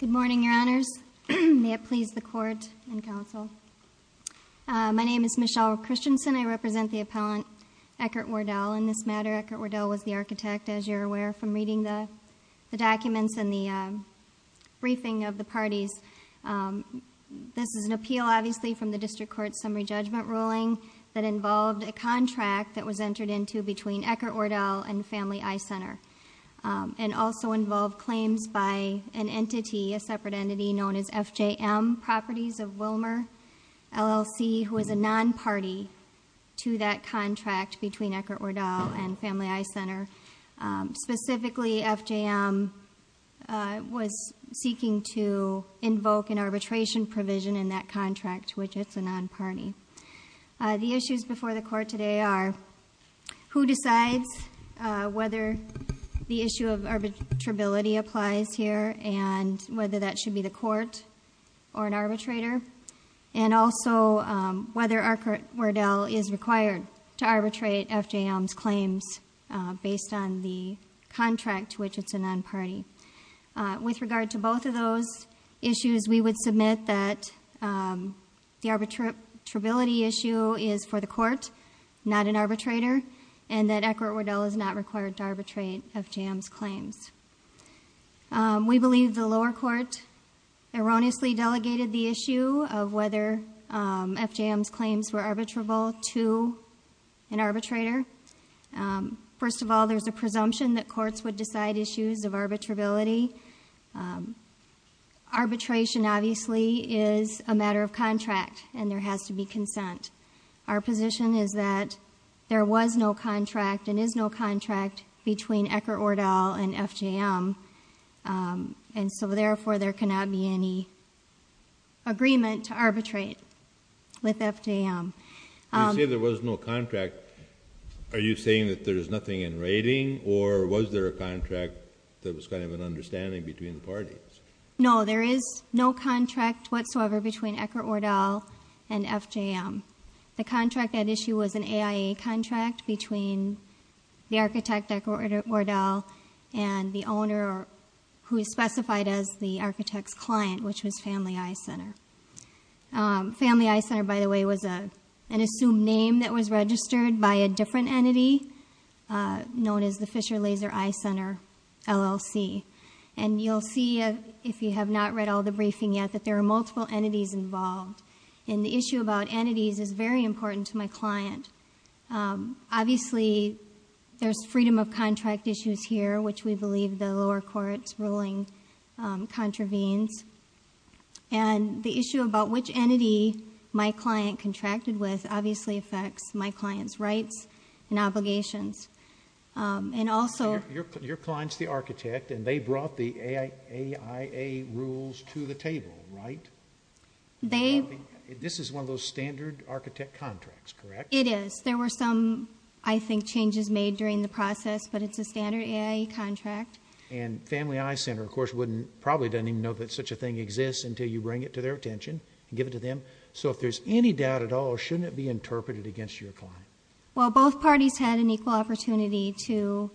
Good morning, Your Honors. May it please the Court and Counsel. My name is Michelle Christensen. I represent the appellant Eckert-Wordell in this matter. Eckert-Wordell was the architect, as you're aware from reading the documents and the briefing of the parties. This is an appeal, obviously, from the District Court's summary judgment ruling that involved a contract that was entered into between Eckert-Wordell and Family Eye Center, and also involved claims by an entity, a separate entity known as FJM Properties of Willmar, LLC, who is a non-party to that contract between Eckert-Wordell and Family Eye Center. Specifically, FJM was seeking to invoke an arbitration provision in that contract, which it's a non-party. The issues before the Court today are who decides whether the issue of arbitrability applies here and whether that should be the Court or an arbitrator, and also whether Eckert-Wordell is required to arbitrate FJM's claims based on the contract to which it's a non-party. With regard to both of those issues, we would submit that the arbitrability issue is for the Court, not an arbitrator, and that Eckert-Wordell is not required to arbitrate FJM's claims. We believe the lower court erroneously delegated the issue of whether FJM's claims were arbitrable to an arbitrator. First of all, there's a presumption that courts would decide issues of arbitrability. Arbitration, obviously, is a matter of contract, and there has to be consent. Our position is that there was no contract and is no contract between Eckert-Wordell and FJM, and so, therefore, there cannot be any agreement to arbitrate with FJM. When you say there was no contract, are you saying that there's nothing in writing, or was there a contract that was kind of an understanding between the parties? No, there is no contract whatsoever between Eckert-Wordell and FJM. The contract at issue was an AIA contract between the architect, Eckert-Wordell, and the owner who is specified as the architect's client, which was Family Eye Center. Family Eye Center, by the way, was an assumed name that was registered by a different entity known as the Fisher Laser Eye Center, LLC. And you'll see, if you have not read all the briefing yet, that there are multiple entities involved, and the issue about entities is very important to my client. Obviously, there's freedom of contract issues here, which we believe the lower court's ruling contravenes, and the issue about which entity my client contracted with obviously affects my client's rights and obligations. Your client's the architect, and they brought the AIA rules to the table, right? This is one of those standard architect contracts, correct? It is. There were some, I think, changes made during the process, but it's a standard AIA contract. And Family Eye Center, of course, probably doesn't even know that such a thing exists until you bring it to their attention and give it to them. So if there's any doubt at all, shouldn't it be interpreted against your client? Well, both parties had an equal opportunity to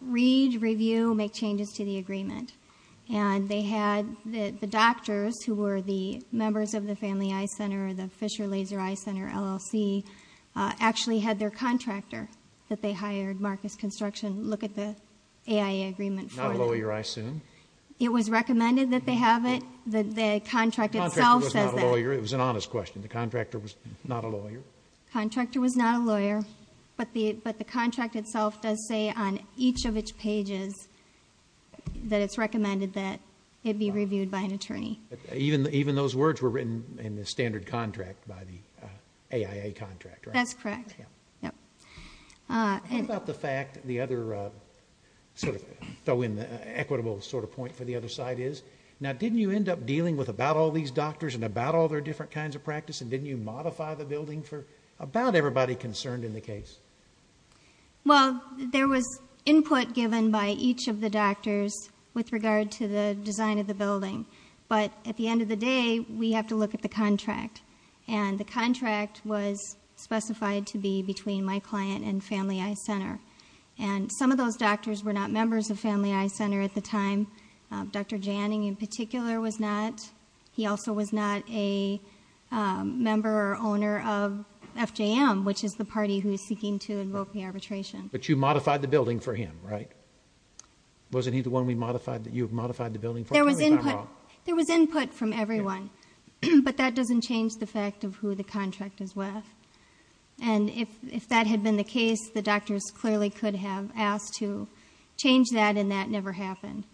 read, review, make changes to the agreement. And they had the doctors who were the members of the Family Eye Center, the Fisher Laser Eye Center, LLC, actually had their contractor that they hired, Marcus Construction. Look at the AIA agreement for them. Not a lawyer, I assume. It was recommended that they have it. The contract itself says that. The contractor was not a lawyer. It was an honest question. The contractor was not a lawyer. The contractor was not a lawyer, but the contract itself does say on each of its pages that it's recommended that it be reviewed by an attorney. Even those words were written in the standard contract by the AIA contractor. That's correct. How about the fact, the other sort of equitable sort of point for the other side is, now didn't you end up dealing with about all these doctors and about all their different kinds of practice, and didn't you modify the building for about everybody concerned in the case? Well, there was input given by each of the doctors with regard to the design of the building. But at the end of the day, we have to look at the contract. And the contract was specified to be between my client and Family Eye Center. And some of those doctors were not members of Family Eye Center at the time. Dr. Janning in particular was not. He also was not a member or owner of FJM, which is the party who is seeking to invoke the arbitration. But you modified the building for him, right? Wasn't he the one you modified the building for? There was input from everyone. But that doesn't change the fact of who the contract is with. And if that had been the case, the doctors clearly could have asked to change that, and that never happened.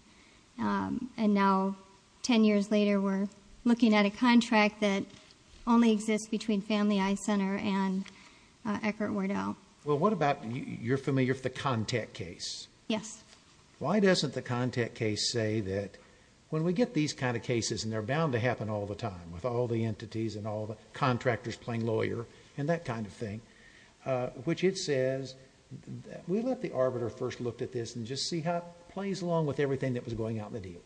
And now, 10 years later, we're looking at a contract that only exists between Family Eye Center and Eckert-Wardell. Well, what about, you're familiar with the contact case. Yes. Why doesn't the contact case say that when we get these kind of cases, and they're bound to happen all the time with all the entities and all the contractors playing lawyer, and that kind of thing, which it says, we let the arbiter first look at this and just see how it plays along with everything that was going out in the deal.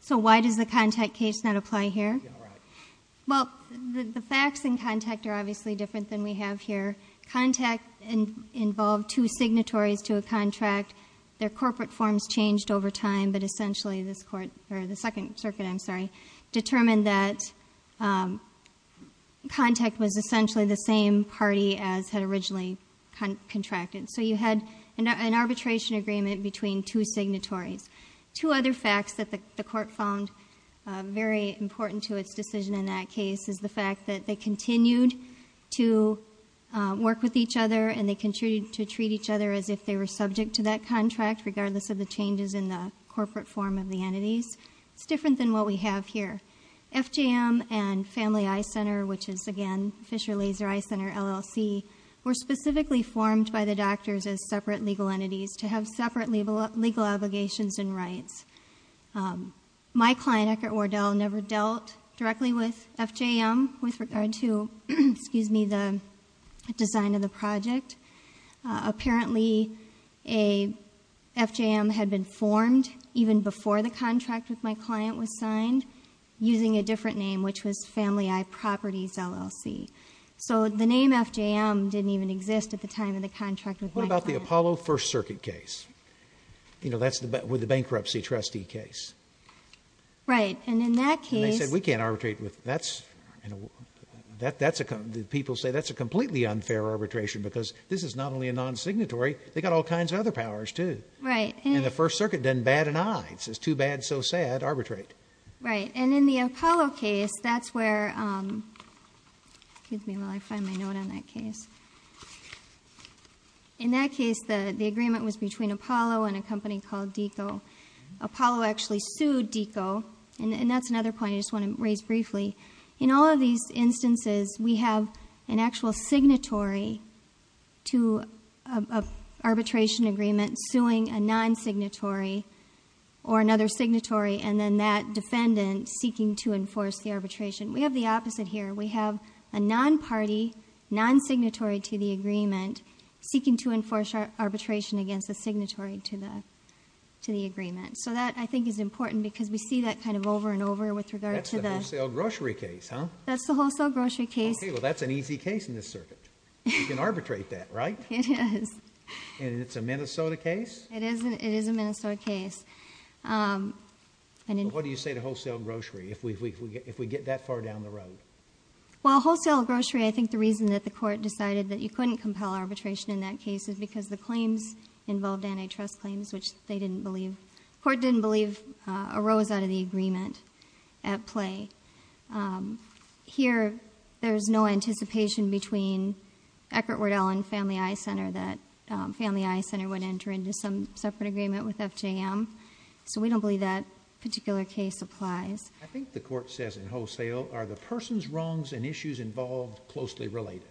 So why does the contact case not apply here? Well, the facts in contact are obviously different than we have here. Contact involved two signatories to a contract. Their corporate forms changed over time, but essentially this court, or the Second Circuit, I'm sorry, determined that contact was essentially the same party as had originally contracted. So you had an arbitration agreement between two signatories. Two other facts that the court found very important to its decision in that case is the fact that they continued to work with each other, and they continued to treat each other as if they were subject to that contract, regardless of the changes in the corporate form of the entities. It's different than what we have here. FJM and Family Eye Center, which is, again, Fisher Laser Eye Center, LLC, were specifically formed by the doctors as separate legal entities to have separate legal obligations and rights. My client, Eckert Wardell, never dealt directly with FJM with regard to the design of the project. Apparently, FJM had been formed even before the contract with my client was signed, using a different name, which was Family Eye Properties, LLC. So the name FJM didn't even exist at the time of the contract with my client. What about the Apollo First Circuit case? You know, that's with the bankruptcy trustee case. Right, and in that case— And they said, we can't arbitrate with that. People say that's a completely unfair arbitration because this is not only a non-signatory, they've got all kinds of other powers too. Right. And the First Circuit done bad and I. It says too bad, so sad, arbitrate. Right, and in the Apollo case, that's where— excuse me while I find my note on that case. In that case, the agreement was between Apollo and a company called DECO. Apollo actually sued DECO, and that's another point I just want to raise briefly. In all of these instances, we have an actual signatory to an arbitration agreement suing a non-signatory or another signatory, and then that defendant seeking to enforce the arbitration. We have the opposite here. We have a non-party, non-signatory to the agreement seeking to enforce arbitration against a signatory to the agreement. So that, I think, is important because we see that kind of over and over with regard to the— That's the wholesale grocery case, huh? That's the wholesale grocery case. Okay, well, that's an easy case in this circuit. You can arbitrate that, right? It is. And it's a Minnesota case? It is a Minnesota case. What do you say to wholesale grocery if we get that far down the road? Well, wholesale grocery, I think the reason that the court decided that you couldn't compel arbitration in that case is because the claims involved antitrust claims, which they didn't believe— the court didn't believe arose out of the agreement at play. Here, there's no anticipation between Eckert-Wardell and Family Eye Center that Family Eye Center would enter into some separate agreement with FJM. So we don't believe that particular case applies. I think the court says in wholesale, are the person's wrongs and issues involved closely related?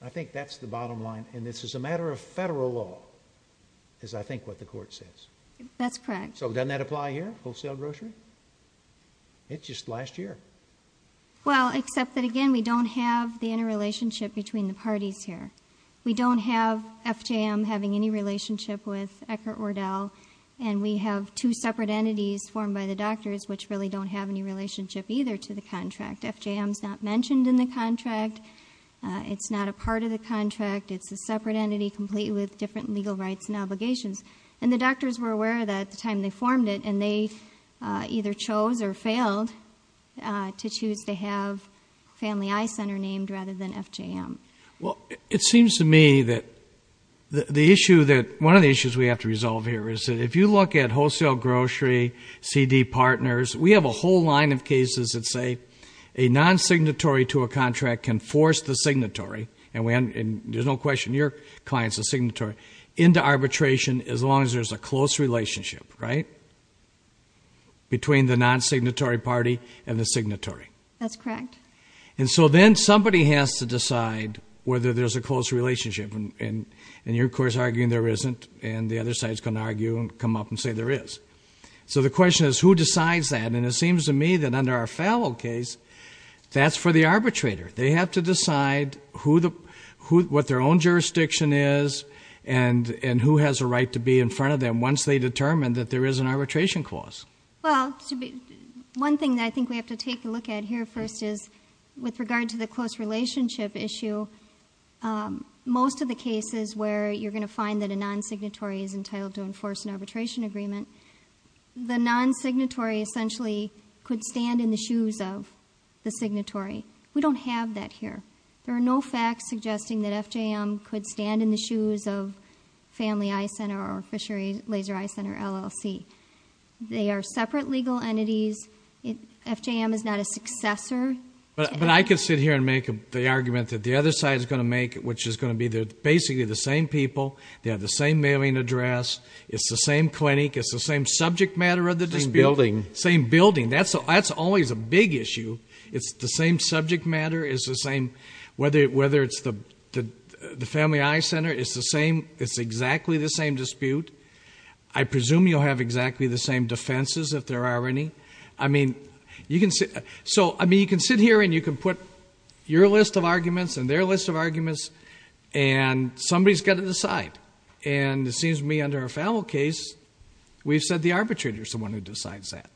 I think that's the bottom line, and this is a matter of federal law, is I think what the court says. That's correct. So doesn't that apply here, wholesale grocery? It's just last year. Well, except that, again, we don't have the interrelationship between the parties here. We don't have FJM having any relationship with Eckert-Wardell, and we have two separate entities formed by the doctors which really don't have any relationship either to the contract. FJM's not mentioned in the contract. It's not a part of the contract. It's a separate entity completely with different legal rights and obligations. And the doctors were aware that at the time they formed it, and they either chose or failed to choose to have Family Eye Center named rather than FJM. Well, it seems to me that the issue that one of the issues we have to resolve here is that if you look at wholesale grocery, CD partners, we have a whole line of cases that say a non-signatory to a contract can force the signatory, and there's no question your client's a signatory, into arbitration as long as there's a close relationship, right, between the non-signatory party and the signatory. That's correct. And so then somebody has to decide whether there's a close relationship, and you're, of course, arguing there isn't, and the other side's going to argue and come up and say there is. So the question is, who decides that? And it seems to me that under our Fallow case, that's for the arbitrator. They have to decide what their own jurisdiction is and who has a right to be in front of them once they determine that there is an arbitration clause. Well, one thing that I think we have to take a look at here first is, with regard to the close relationship issue, most of the cases where you're going to find that a non-signatory is entitled to enforce an arbitration agreement, the non-signatory essentially could stand in the shoes of the signatory. We don't have that here. There are no facts suggesting that FJM could stand in the shoes of Family Eye Center or Fishery Laser Eye Center LLC. They are separate legal entities. FJM is not a successor. But I could sit here and make the argument that the other side is going to make, which is going to be basically the same people, they have the same mailing address, it's the same clinic, it's the same subject matter of the dispute. Same building. Same building. That's always a big issue. It's the same subject matter. It's the same whether it's the Family Eye Center. It's the same. It's exactly the same dispute. I presume you'll have exactly the same defenses if there are any. I mean, you can sit here and you can put your list of arguments and their list of arguments, and somebody's got to decide. And it seems to me under a FAML case, we've said the arbitrator is the one who decides that.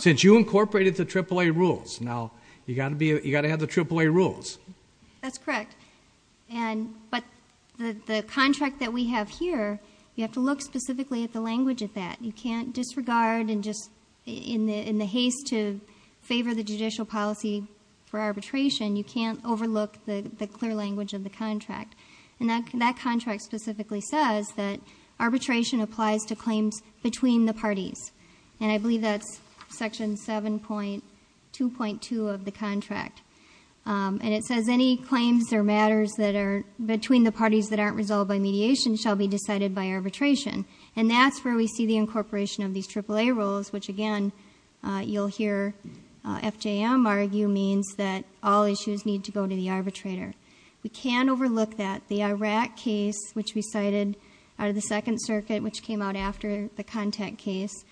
Since you incorporated the AAA rules, now you've got to have the AAA rules. That's correct. But the contract that we have here, you have to look specifically at the language of that. You can't disregard and just in the haste to favor the judicial policy for arbitration, you can't overlook the clear language of the contract. And that contract specifically says that arbitration applies to claims between the parties. And I believe that's Section 7.2.2 of the contract. And it says, Any claims or matters between the parties that aren't resolved by mediation shall be decided by arbitration. And that's where we see the incorporation of these AAA rules, which, again, you'll hear FJM argue means that all issues need to go to the arbitrator. We can overlook that. The Iraq case, which we cited out of the Second Circuit, which came out after the contact case,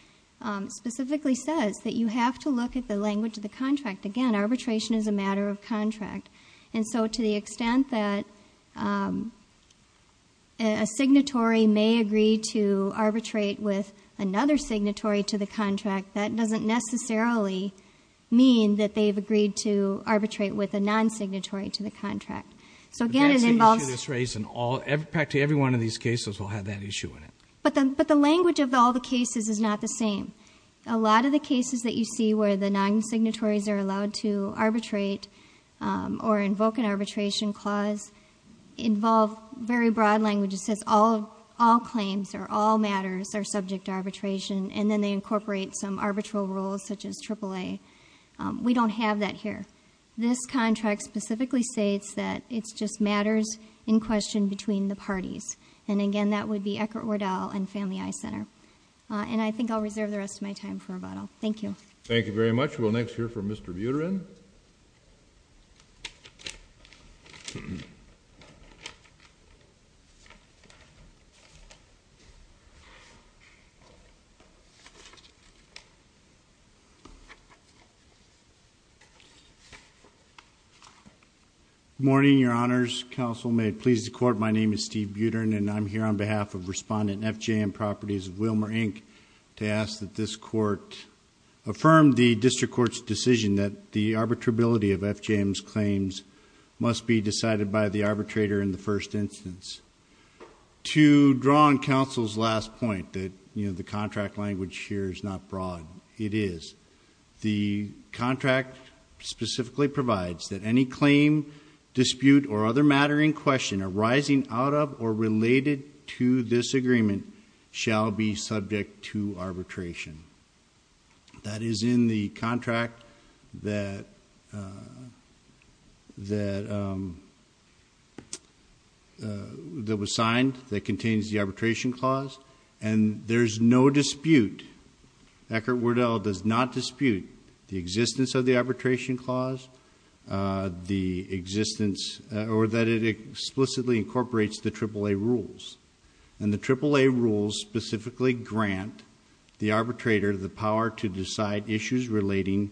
specifically says that you have to look at the language of the contract. Again, arbitration is a matter of contract. And so to the extent that a signatory may agree to arbitrate with another signatory to the contract, that doesn't necessarily mean that they've agreed to arbitrate with a non-signatory to the contract. That's an issue that's raised, and practically every one of these cases will have that issue in it. But the language of all the cases is not the same. A lot of the cases that you see where the non-signatories are allowed to arbitrate or invoke an arbitration clause involve very broad language. It says all claims or all matters are subject to arbitration, and then they incorporate some arbitral rules such as AAA. We don't have that here. This contract specifically states that it just matters in question between the parties. And again, that would be Eckert-Wardell and Family Eye Center. And I think I'll reserve the rest of my time for rebuttal. Thank you. Thank you very much. We'll next hear from Mr. Buterin. Good morning, Your Honors. Counsel, may it please the Court, my name is Steve Buterin, and I'm here on behalf of Respondent F.J.M. Properties of Willmar, Inc. to ask that this Court affirm the District Court's decision that the arbitrability of F.J.M.'s claims must be decided by the arbitrator in the first instance. To draw on Counsel's last point that the contract language here is not broad, it is. The contract specifically provides that any claim, dispute, or other matter in question arising out of or related to this agreement shall be subject to arbitration. That is in the contract that was signed that contains the arbitration clause, and there's no dispute. Eckert-Wardell does not dispute the existence of the arbitration clause, the existence, or that it explicitly incorporates the AAA rules. And the AAA rules specifically grant the arbitrator the power to decide issues relating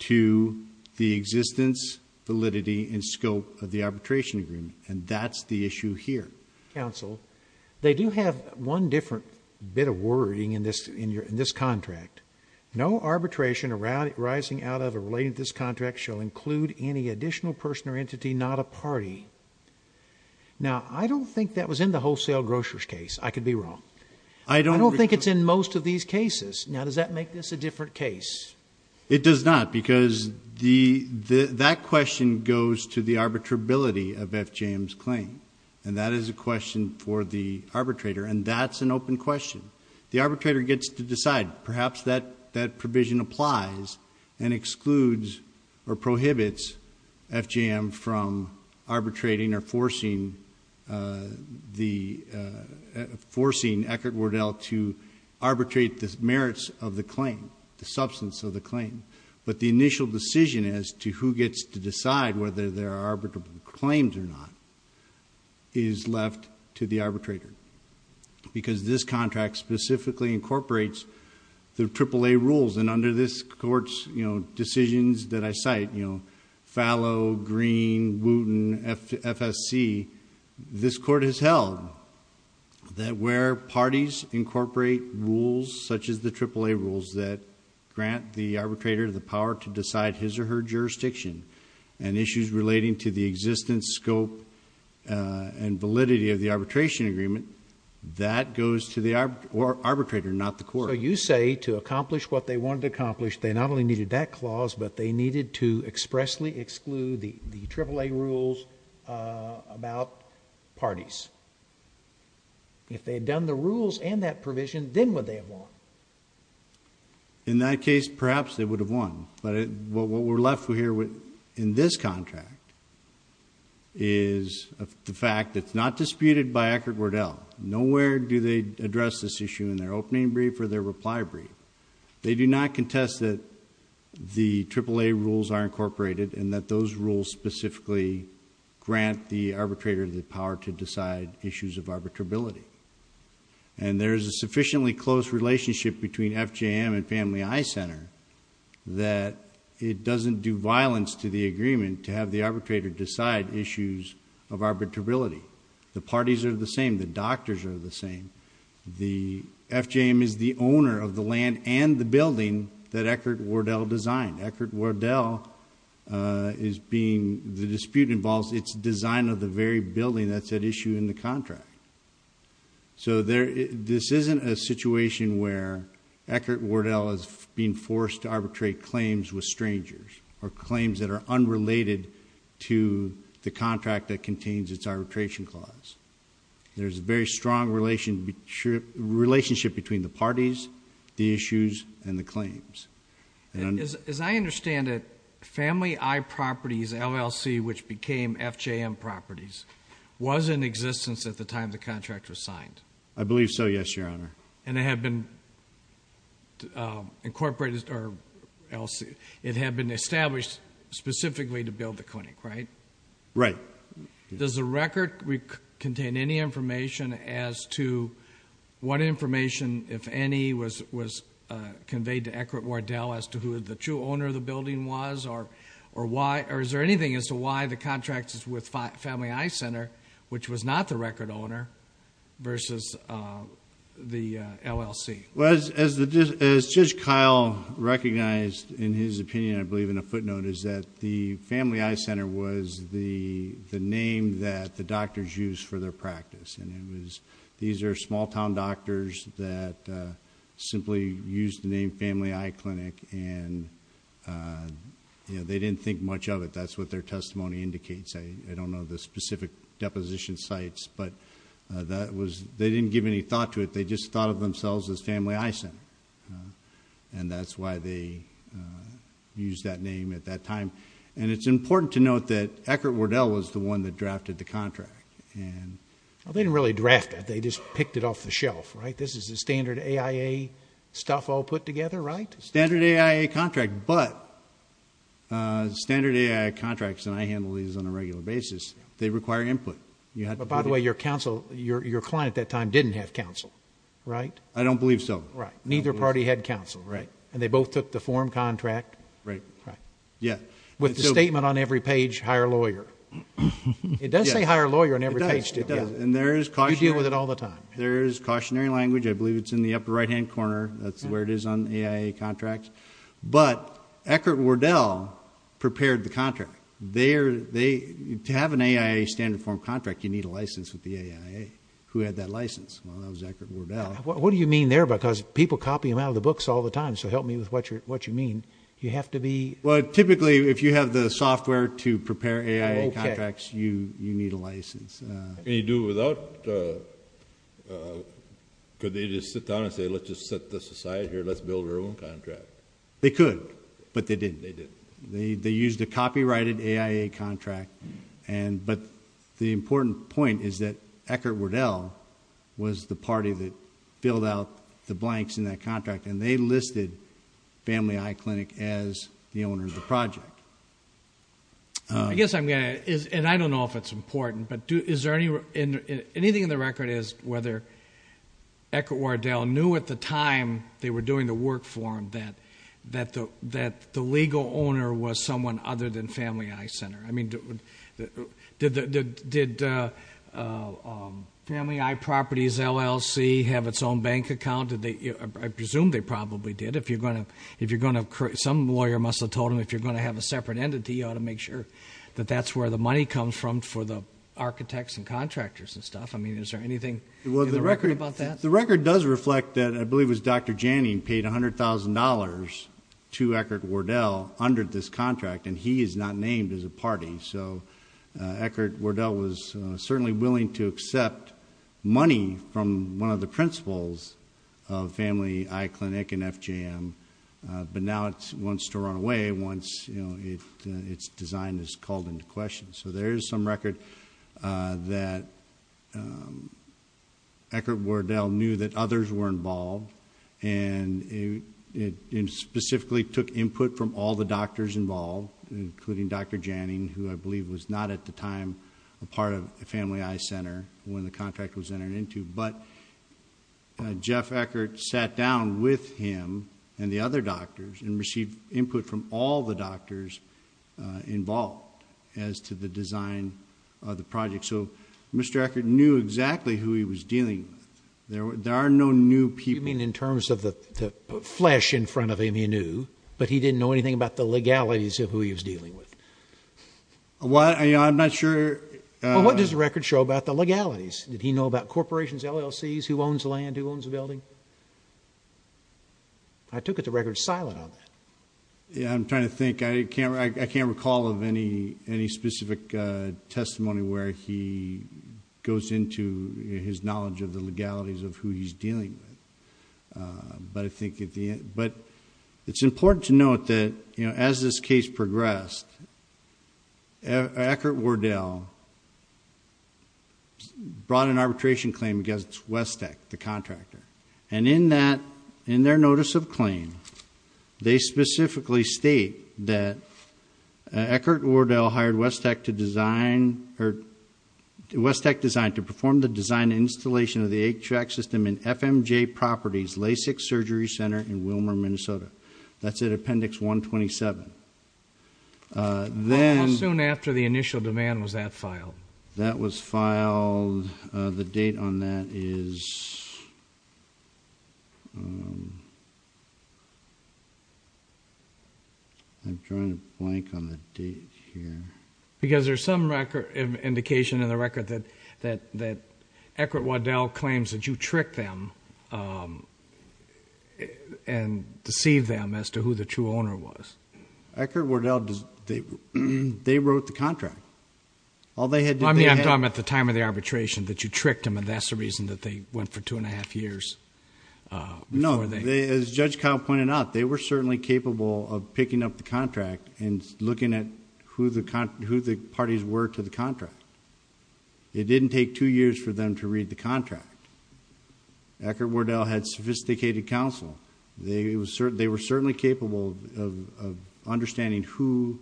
to the existence, validity, and scope of the arbitration agreement. And that's the issue here. Counsel, they do have one different bit of wording in this contract. No arbitration arising out of or related to this contract shall include any additional person or entity, not a party. Now, I don't think that was in the wholesale groceries case. I could be wrong. I don't think it's in most of these cases. Now, does that make this a different case? It does not, because that question goes to the arbitrability of F.J.M.'s claim, and that is a question for the arbitrator, and that's an open question. The arbitrator gets to decide. Perhaps that provision applies and excludes or prohibits F.J.M. from arbitrating or forcing Eckert-Wardell to arbitrate the merits of the claim, the substance of the claim. But the initial decision as to who gets to decide whether there are arbitrable claims or not is left to the arbitrator, because this contract specifically incorporates the AAA rules. And under this Court's decisions that I cite, Fallow, Green, Wooten, FSC, this Court has held that where parties incorporate rules such as the AAA rules that grant the arbitrator the power to decide his or her jurisdiction and issues relating to the existence, scope, and validity of the arbitration agreement, that goes to the arbitrator, not the Court. So you say to accomplish what they wanted to accomplish, they not only needed that clause, but they needed to expressly exclude the AAA rules about parties. If they had done the rules and that provision, then would they have won? In that case, perhaps they would have won. But what we're left with here in this contract is the fact that it's not disputed by Eckert-Wardell. Nowhere do they address this issue in their opening brief or their reply brief. They do not contest that the AAA rules are incorporated and that those rules specifically grant the arbitrator the power to decide issues of arbitrability. And there is a sufficiently close relationship between FJM and Family Eye Center that it doesn't do violence to the agreement to have the arbitrator decide issues of arbitrability. The parties are the same. The doctors are the same. FJM is the owner of the land and the building that Eckert-Wardell designed. Eckert-Wardell is being, the dispute involves its design of the very building that's at issue in the contract. So this isn't a situation where Eckert-Wardell is being forced to arbitrate claims with strangers or claims that are unrelated to the contract that contains its arbitration clause. There's a very strong relationship between the parties, the issues, and the claims. As I understand it, Family Eye Properties LLC, which became FJM Properties, was in existence at the time the contract was signed? I believe so, yes, Your Honor. And it had been incorporated, or it had been established specifically to build the clinic, right? Right. Does the record contain any information as to what information, if any, was conveyed to Eckert-Wardell as to who the true owner of the building was, or is there anything as to why the contract is with Family Eye Center, which was not the record owner, versus the LLC? Well, as Judge Kyle recognized in his opinion, I believe in a footnote, is that the Family Eye Center was the name that the doctors used for their practice. These are small-town doctors that simply used the name Family Eye Clinic, and they didn't think much of it. That's what their testimony indicates. I don't know the specific deposition sites, but they didn't give any thought to it. They just thought of themselves as Family Eye Center, and that's why they used that name at that time. And it's important to note that Eckert-Wardell was the one that drafted the contract. Well, they didn't really draft it. They just picked it off the shelf, right? This is the standard AIA stuff all put together, right? Standard AIA contract, but standard AIA contracts, and I handle these on a regular basis, they require input. By the way, your client at that time didn't have counsel, right? I don't believe so. Right. Neither party had counsel, right? And they both took the form contract? Right. With the statement on every page, hire lawyer. It does say hire lawyer on every page. It does. And there is cautionary language. You deal with it all the time. I believe it's in the upper right-hand corner. That's where it is on AIA contracts. But Eckert-Wardell prepared the contract. To have an AIA standard form contract, you need a license with the AIA. Who had that license? Well, that was Eckert-Wardell. What do you mean there? Because people copy them out of the books all the time. So help me with what you mean. You have to be? Well, typically, if you have the software to prepare AIA contracts, you need a license. Can you do it without? Could they just sit down and say, let's just set this aside here, let's build our own contract? They could, but they didn't. They used a copyrighted AIA contract. But the important point is that Eckert-Wardell was the party that filled out the blanks in that contract, and they listed Family Eye Clinic as the owner of the project. I guess I'm going to ask, and I don't know if it's important, but anything in the record is whether Eckert-Wardell knew at the time they were doing the work for him that the legal owner was someone other than Family Eye Center. I mean, did Family Eye Properties LLC have its own bank account? I presume they probably did. Some lawyer must have told them if you're going to have a separate entity, you ought to make sure that that's where the money comes from for the architects and contractors and stuff. I mean, is there anything in the record about that? The record does reflect that I believe it was Dr. Janning paid $100,000 to Eckert-Wardell under this contract, and he is not named as a party. So Eckert-Wardell was certainly willing to accept money from one of the principals of Family Eye Clinic and FJM, but now it wants to run away once its design is called into question. So there is some record that Eckert-Wardell knew that others were involved, and it specifically took input from all the doctors involved, including Dr. Janning, who I believe was not at the time a part of Family Eye Center when the contract was entered into. But Jeff Eckert sat down with him and the other doctors and received input from all the doctors involved as to the design of the project. So Mr. Eckert knew exactly who he was dealing with. There are no new people. You mean in terms of the flesh in front of him he knew, but he didn't know anything about the legalities of who he was dealing with? Well, I'm not sure. Well, what does the record show about the legalities? Did he know about corporations, LLCs, who owns land, who owns a building? I took the record silent on that. I'm trying to think. I can't recall of any specific testimony where he goes into his knowledge of the legalities of who he's dealing with. But it's important to note that as this case progressed, Eckert-Wardell brought an arbitration claim against Westec, the contractor, and in their notice of claim they specifically state that Eckert-Wardell hired Westec Design to perform the design and installation of the 8-track system in FMJ Properties LASIK Surgery Center in Willmar, Minnesota. That's at Appendix 127. That was filed. The date on that is... I'm drawing a blank on the date here. Because there's some indication in the record that Eckert-Wardell claims that you tricked them and deceived them as to who the true owner was. Eckert-Wardell, they wrote the contract. I mean, I'm talking about the time of the arbitration that you tricked them and that's the reason that they went for two and a half years. No. As Judge Kopp pointed out, they were certainly capable of picking up the contract and looking at who the parties were to the contract. It didn't take two years for them to read the contract. Eckert-Wardell had sophisticated counsel. They were certainly capable of understanding who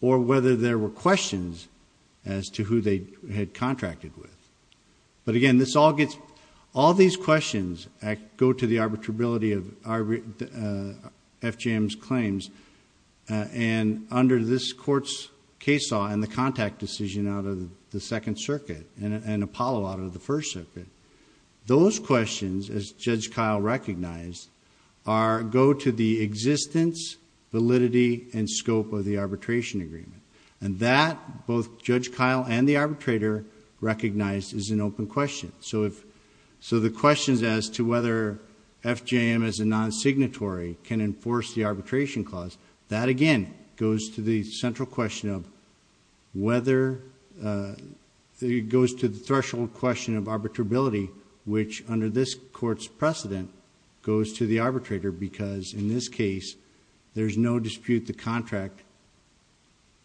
or whether there were questions as to who they had contracted with. But again, all these questions go to the arbitrability of FJM's claims. Under this court's case law and the contact decision out of the Second Circuit and Apollo out of the First Circuit, those questions, as Judge Keil recognized, go to the existence, validity, and scope of the arbitration agreement. That, both Judge Keil and the arbitrator recognized, is an open question. The questions as to whether FJM as a non-signatory can enforce the arbitration clause, that again goes to the central question of whether... under this court's precedent, goes to the arbitrator because, in this case, there's no dispute the contract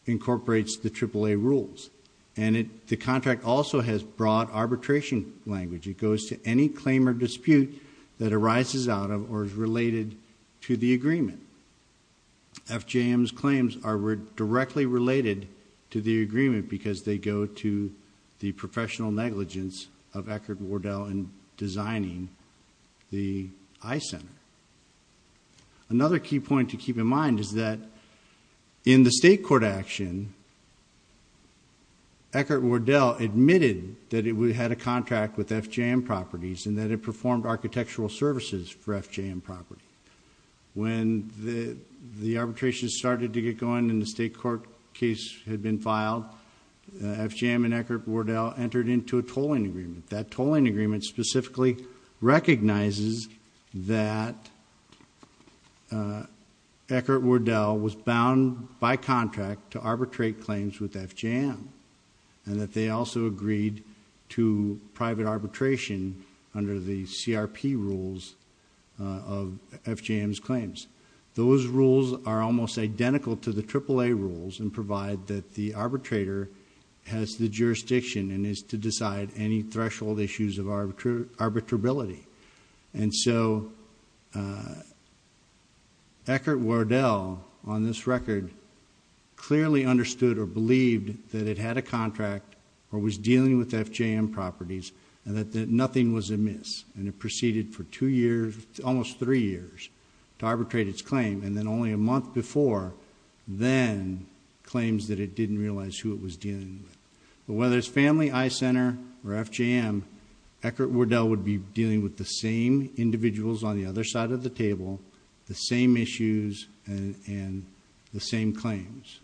incorporates the AAA rules. And the contract also has broad arbitration language. It goes to any claim or dispute that arises out of or is related to the agreement. FJM's claims are directly related to the agreement because they go to the professional negligence of Eckert-Wardell in designing the I-Center. Another key point to keep in mind is that in the state court action, Eckert-Wardell admitted that it had a contract with FJM Properties and that it performed architectural services for FJM Properties. When the arbitration started to get going and the state court case had been filed, FJM and Eckert-Wardell entered into a tolling agreement. That tolling agreement specifically recognizes that Eckert-Wardell was bound by contract to arbitrate claims with FJM and that they also agreed to private arbitration under the CRP rules of FJM's claims. Those rules are almost identical to the AAA rules and provide that the arbitrator has the jurisdiction and is to decide any threshold issues of arbitrability. And so Eckert-Wardell, on this record, clearly understood or believed that it had a contract or was dealing with FJM Properties and that nothing was amiss. And it proceeded for two years, almost three years, to arbitrate its claim and then only a month before then claims that it didn't realize who it was dealing with. But whether it's Family, I-Center, or FJM, Eckert-Wardell would be dealing with the same individuals on the other side of the table, the same issues, and the same claims.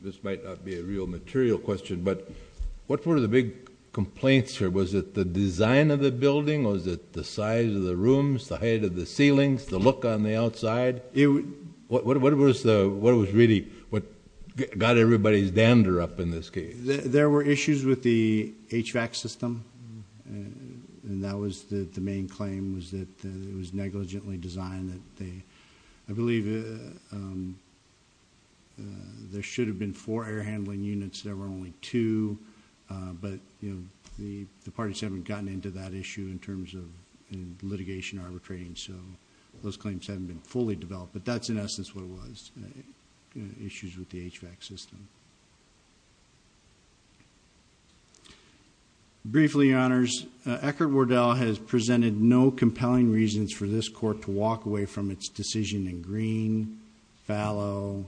This might not be a real material question, but what were the big complaints here? Was it the design of the building? Was it the size of the rooms, the height of the ceilings, the look on the outside? What was really what got everybody's dander up in this case? There were issues with the HVAC system, and that was the main claim was that it was negligently designed. I believe there should have been four air handling units. There were only two. But the parties haven't gotten into that issue in terms of litigation arbitrating, so those claims haven't been fully developed. But that's in essence what it was, issues with the HVAC system. Briefly, Your Honors, Eckert-Wardell has presented no compelling reasons for this court to walk away from its decision in green, fallow,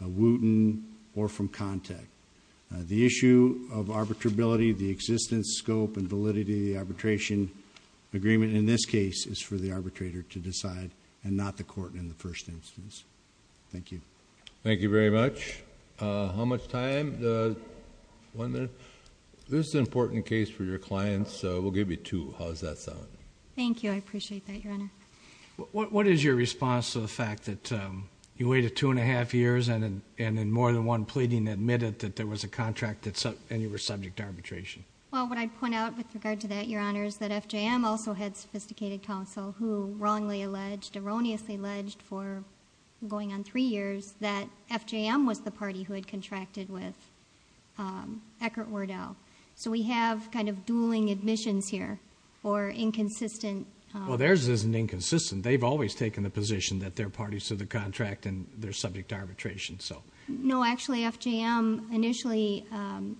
wooten, or from contact. The issue of arbitrability, the existence, scope, and validity of the arbitration agreement in this case is for the arbitrator to decide and not the court in the first instance. Thank you. Thank you very much. How much time? This is an important case for your clients, so we'll give you two. How does that sound? Thank you. I appreciate that, Your Honor. What is your response to the fact that you waited two and a half years and in more than one pleading admitted that there was a contract and you were subject to arbitration? Well, what I'd point out with regard to that, Your Honor, is that FJM also had sophisticated counsel who wrongly alleged, erroneously alleged, for going on three years that FJM was the party who had contracted with Eckert-Wardell. So we have kind of dueling admissions here or inconsistent. Well, theirs isn't inconsistent. They've always taken the position that they're parties to the contract and they're subject to arbitration. No, actually, FJM initially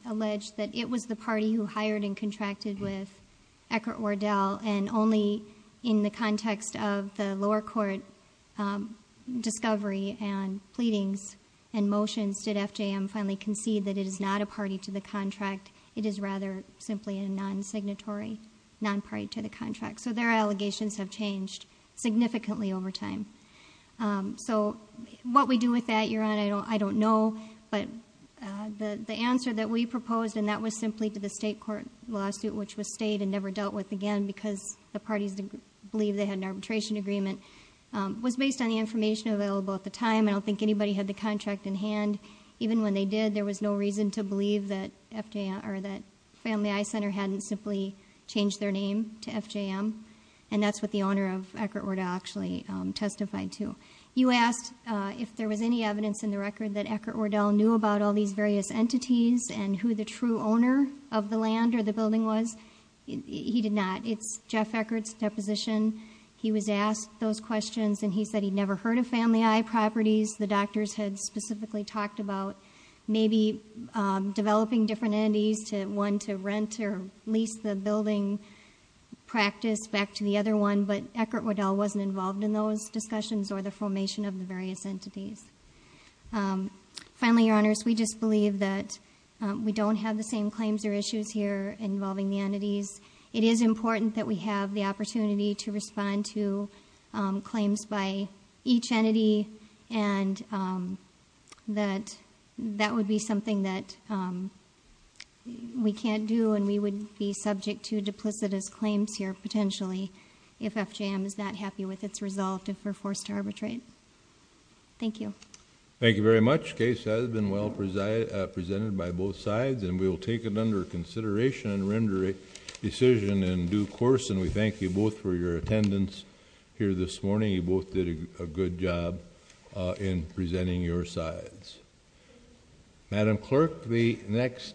alleged that it was the party who hired and contracted with Eckert-Wardell and only in the context of the lower court discovery and pleadings and motions did FJM finally concede that it is not a party to the contract. It is rather simply a non-signatory, non-party to the contract. So their allegations have changed significantly over time. So what we do with that, Your Honor, I don't know. But the answer that we proposed, and that was simply to the state court lawsuit, which was stayed and never dealt with again because the parties believed they had an arbitration agreement, was based on the information available at the time. I don't think anybody had the contract in hand. Even when they did, there was no reason to believe that Family Eye Center hadn't simply changed their name to FJM. And that's what the owner of Eckert-Wardell actually testified to. You asked if there was any evidence in the record that Eckert-Wardell knew about all these various entities and who the true owner of the land or the building was. He did not. It's Jeff Eckert's deposition. He was asked those questions, and he said he'd never heard of Family Eye Properties. The doctors had specifically talked about maybe developing different entities, one to rent or lease the building practice back to the other one. But Eckert-Wardell wasn't involved in those discussions or the formation of the various entities. Finally, Your Honors, we just believe that we don't have the same claims or issues here involving the entities. It is important that we have the opportunity to respond to claims by each entity, and that that would be something that we can't do and we would be subject to duplicitous claims here potentially if FJM is not happy with its result if we're forced to arbitrate. Thank you. Thank you very much. The case has been well presented by both sides, and we will take it under consideration and render a decision in due course, and we thank you both for your attendance here this morning. You both did a good job in presenting your sides. Madam Clerk, the next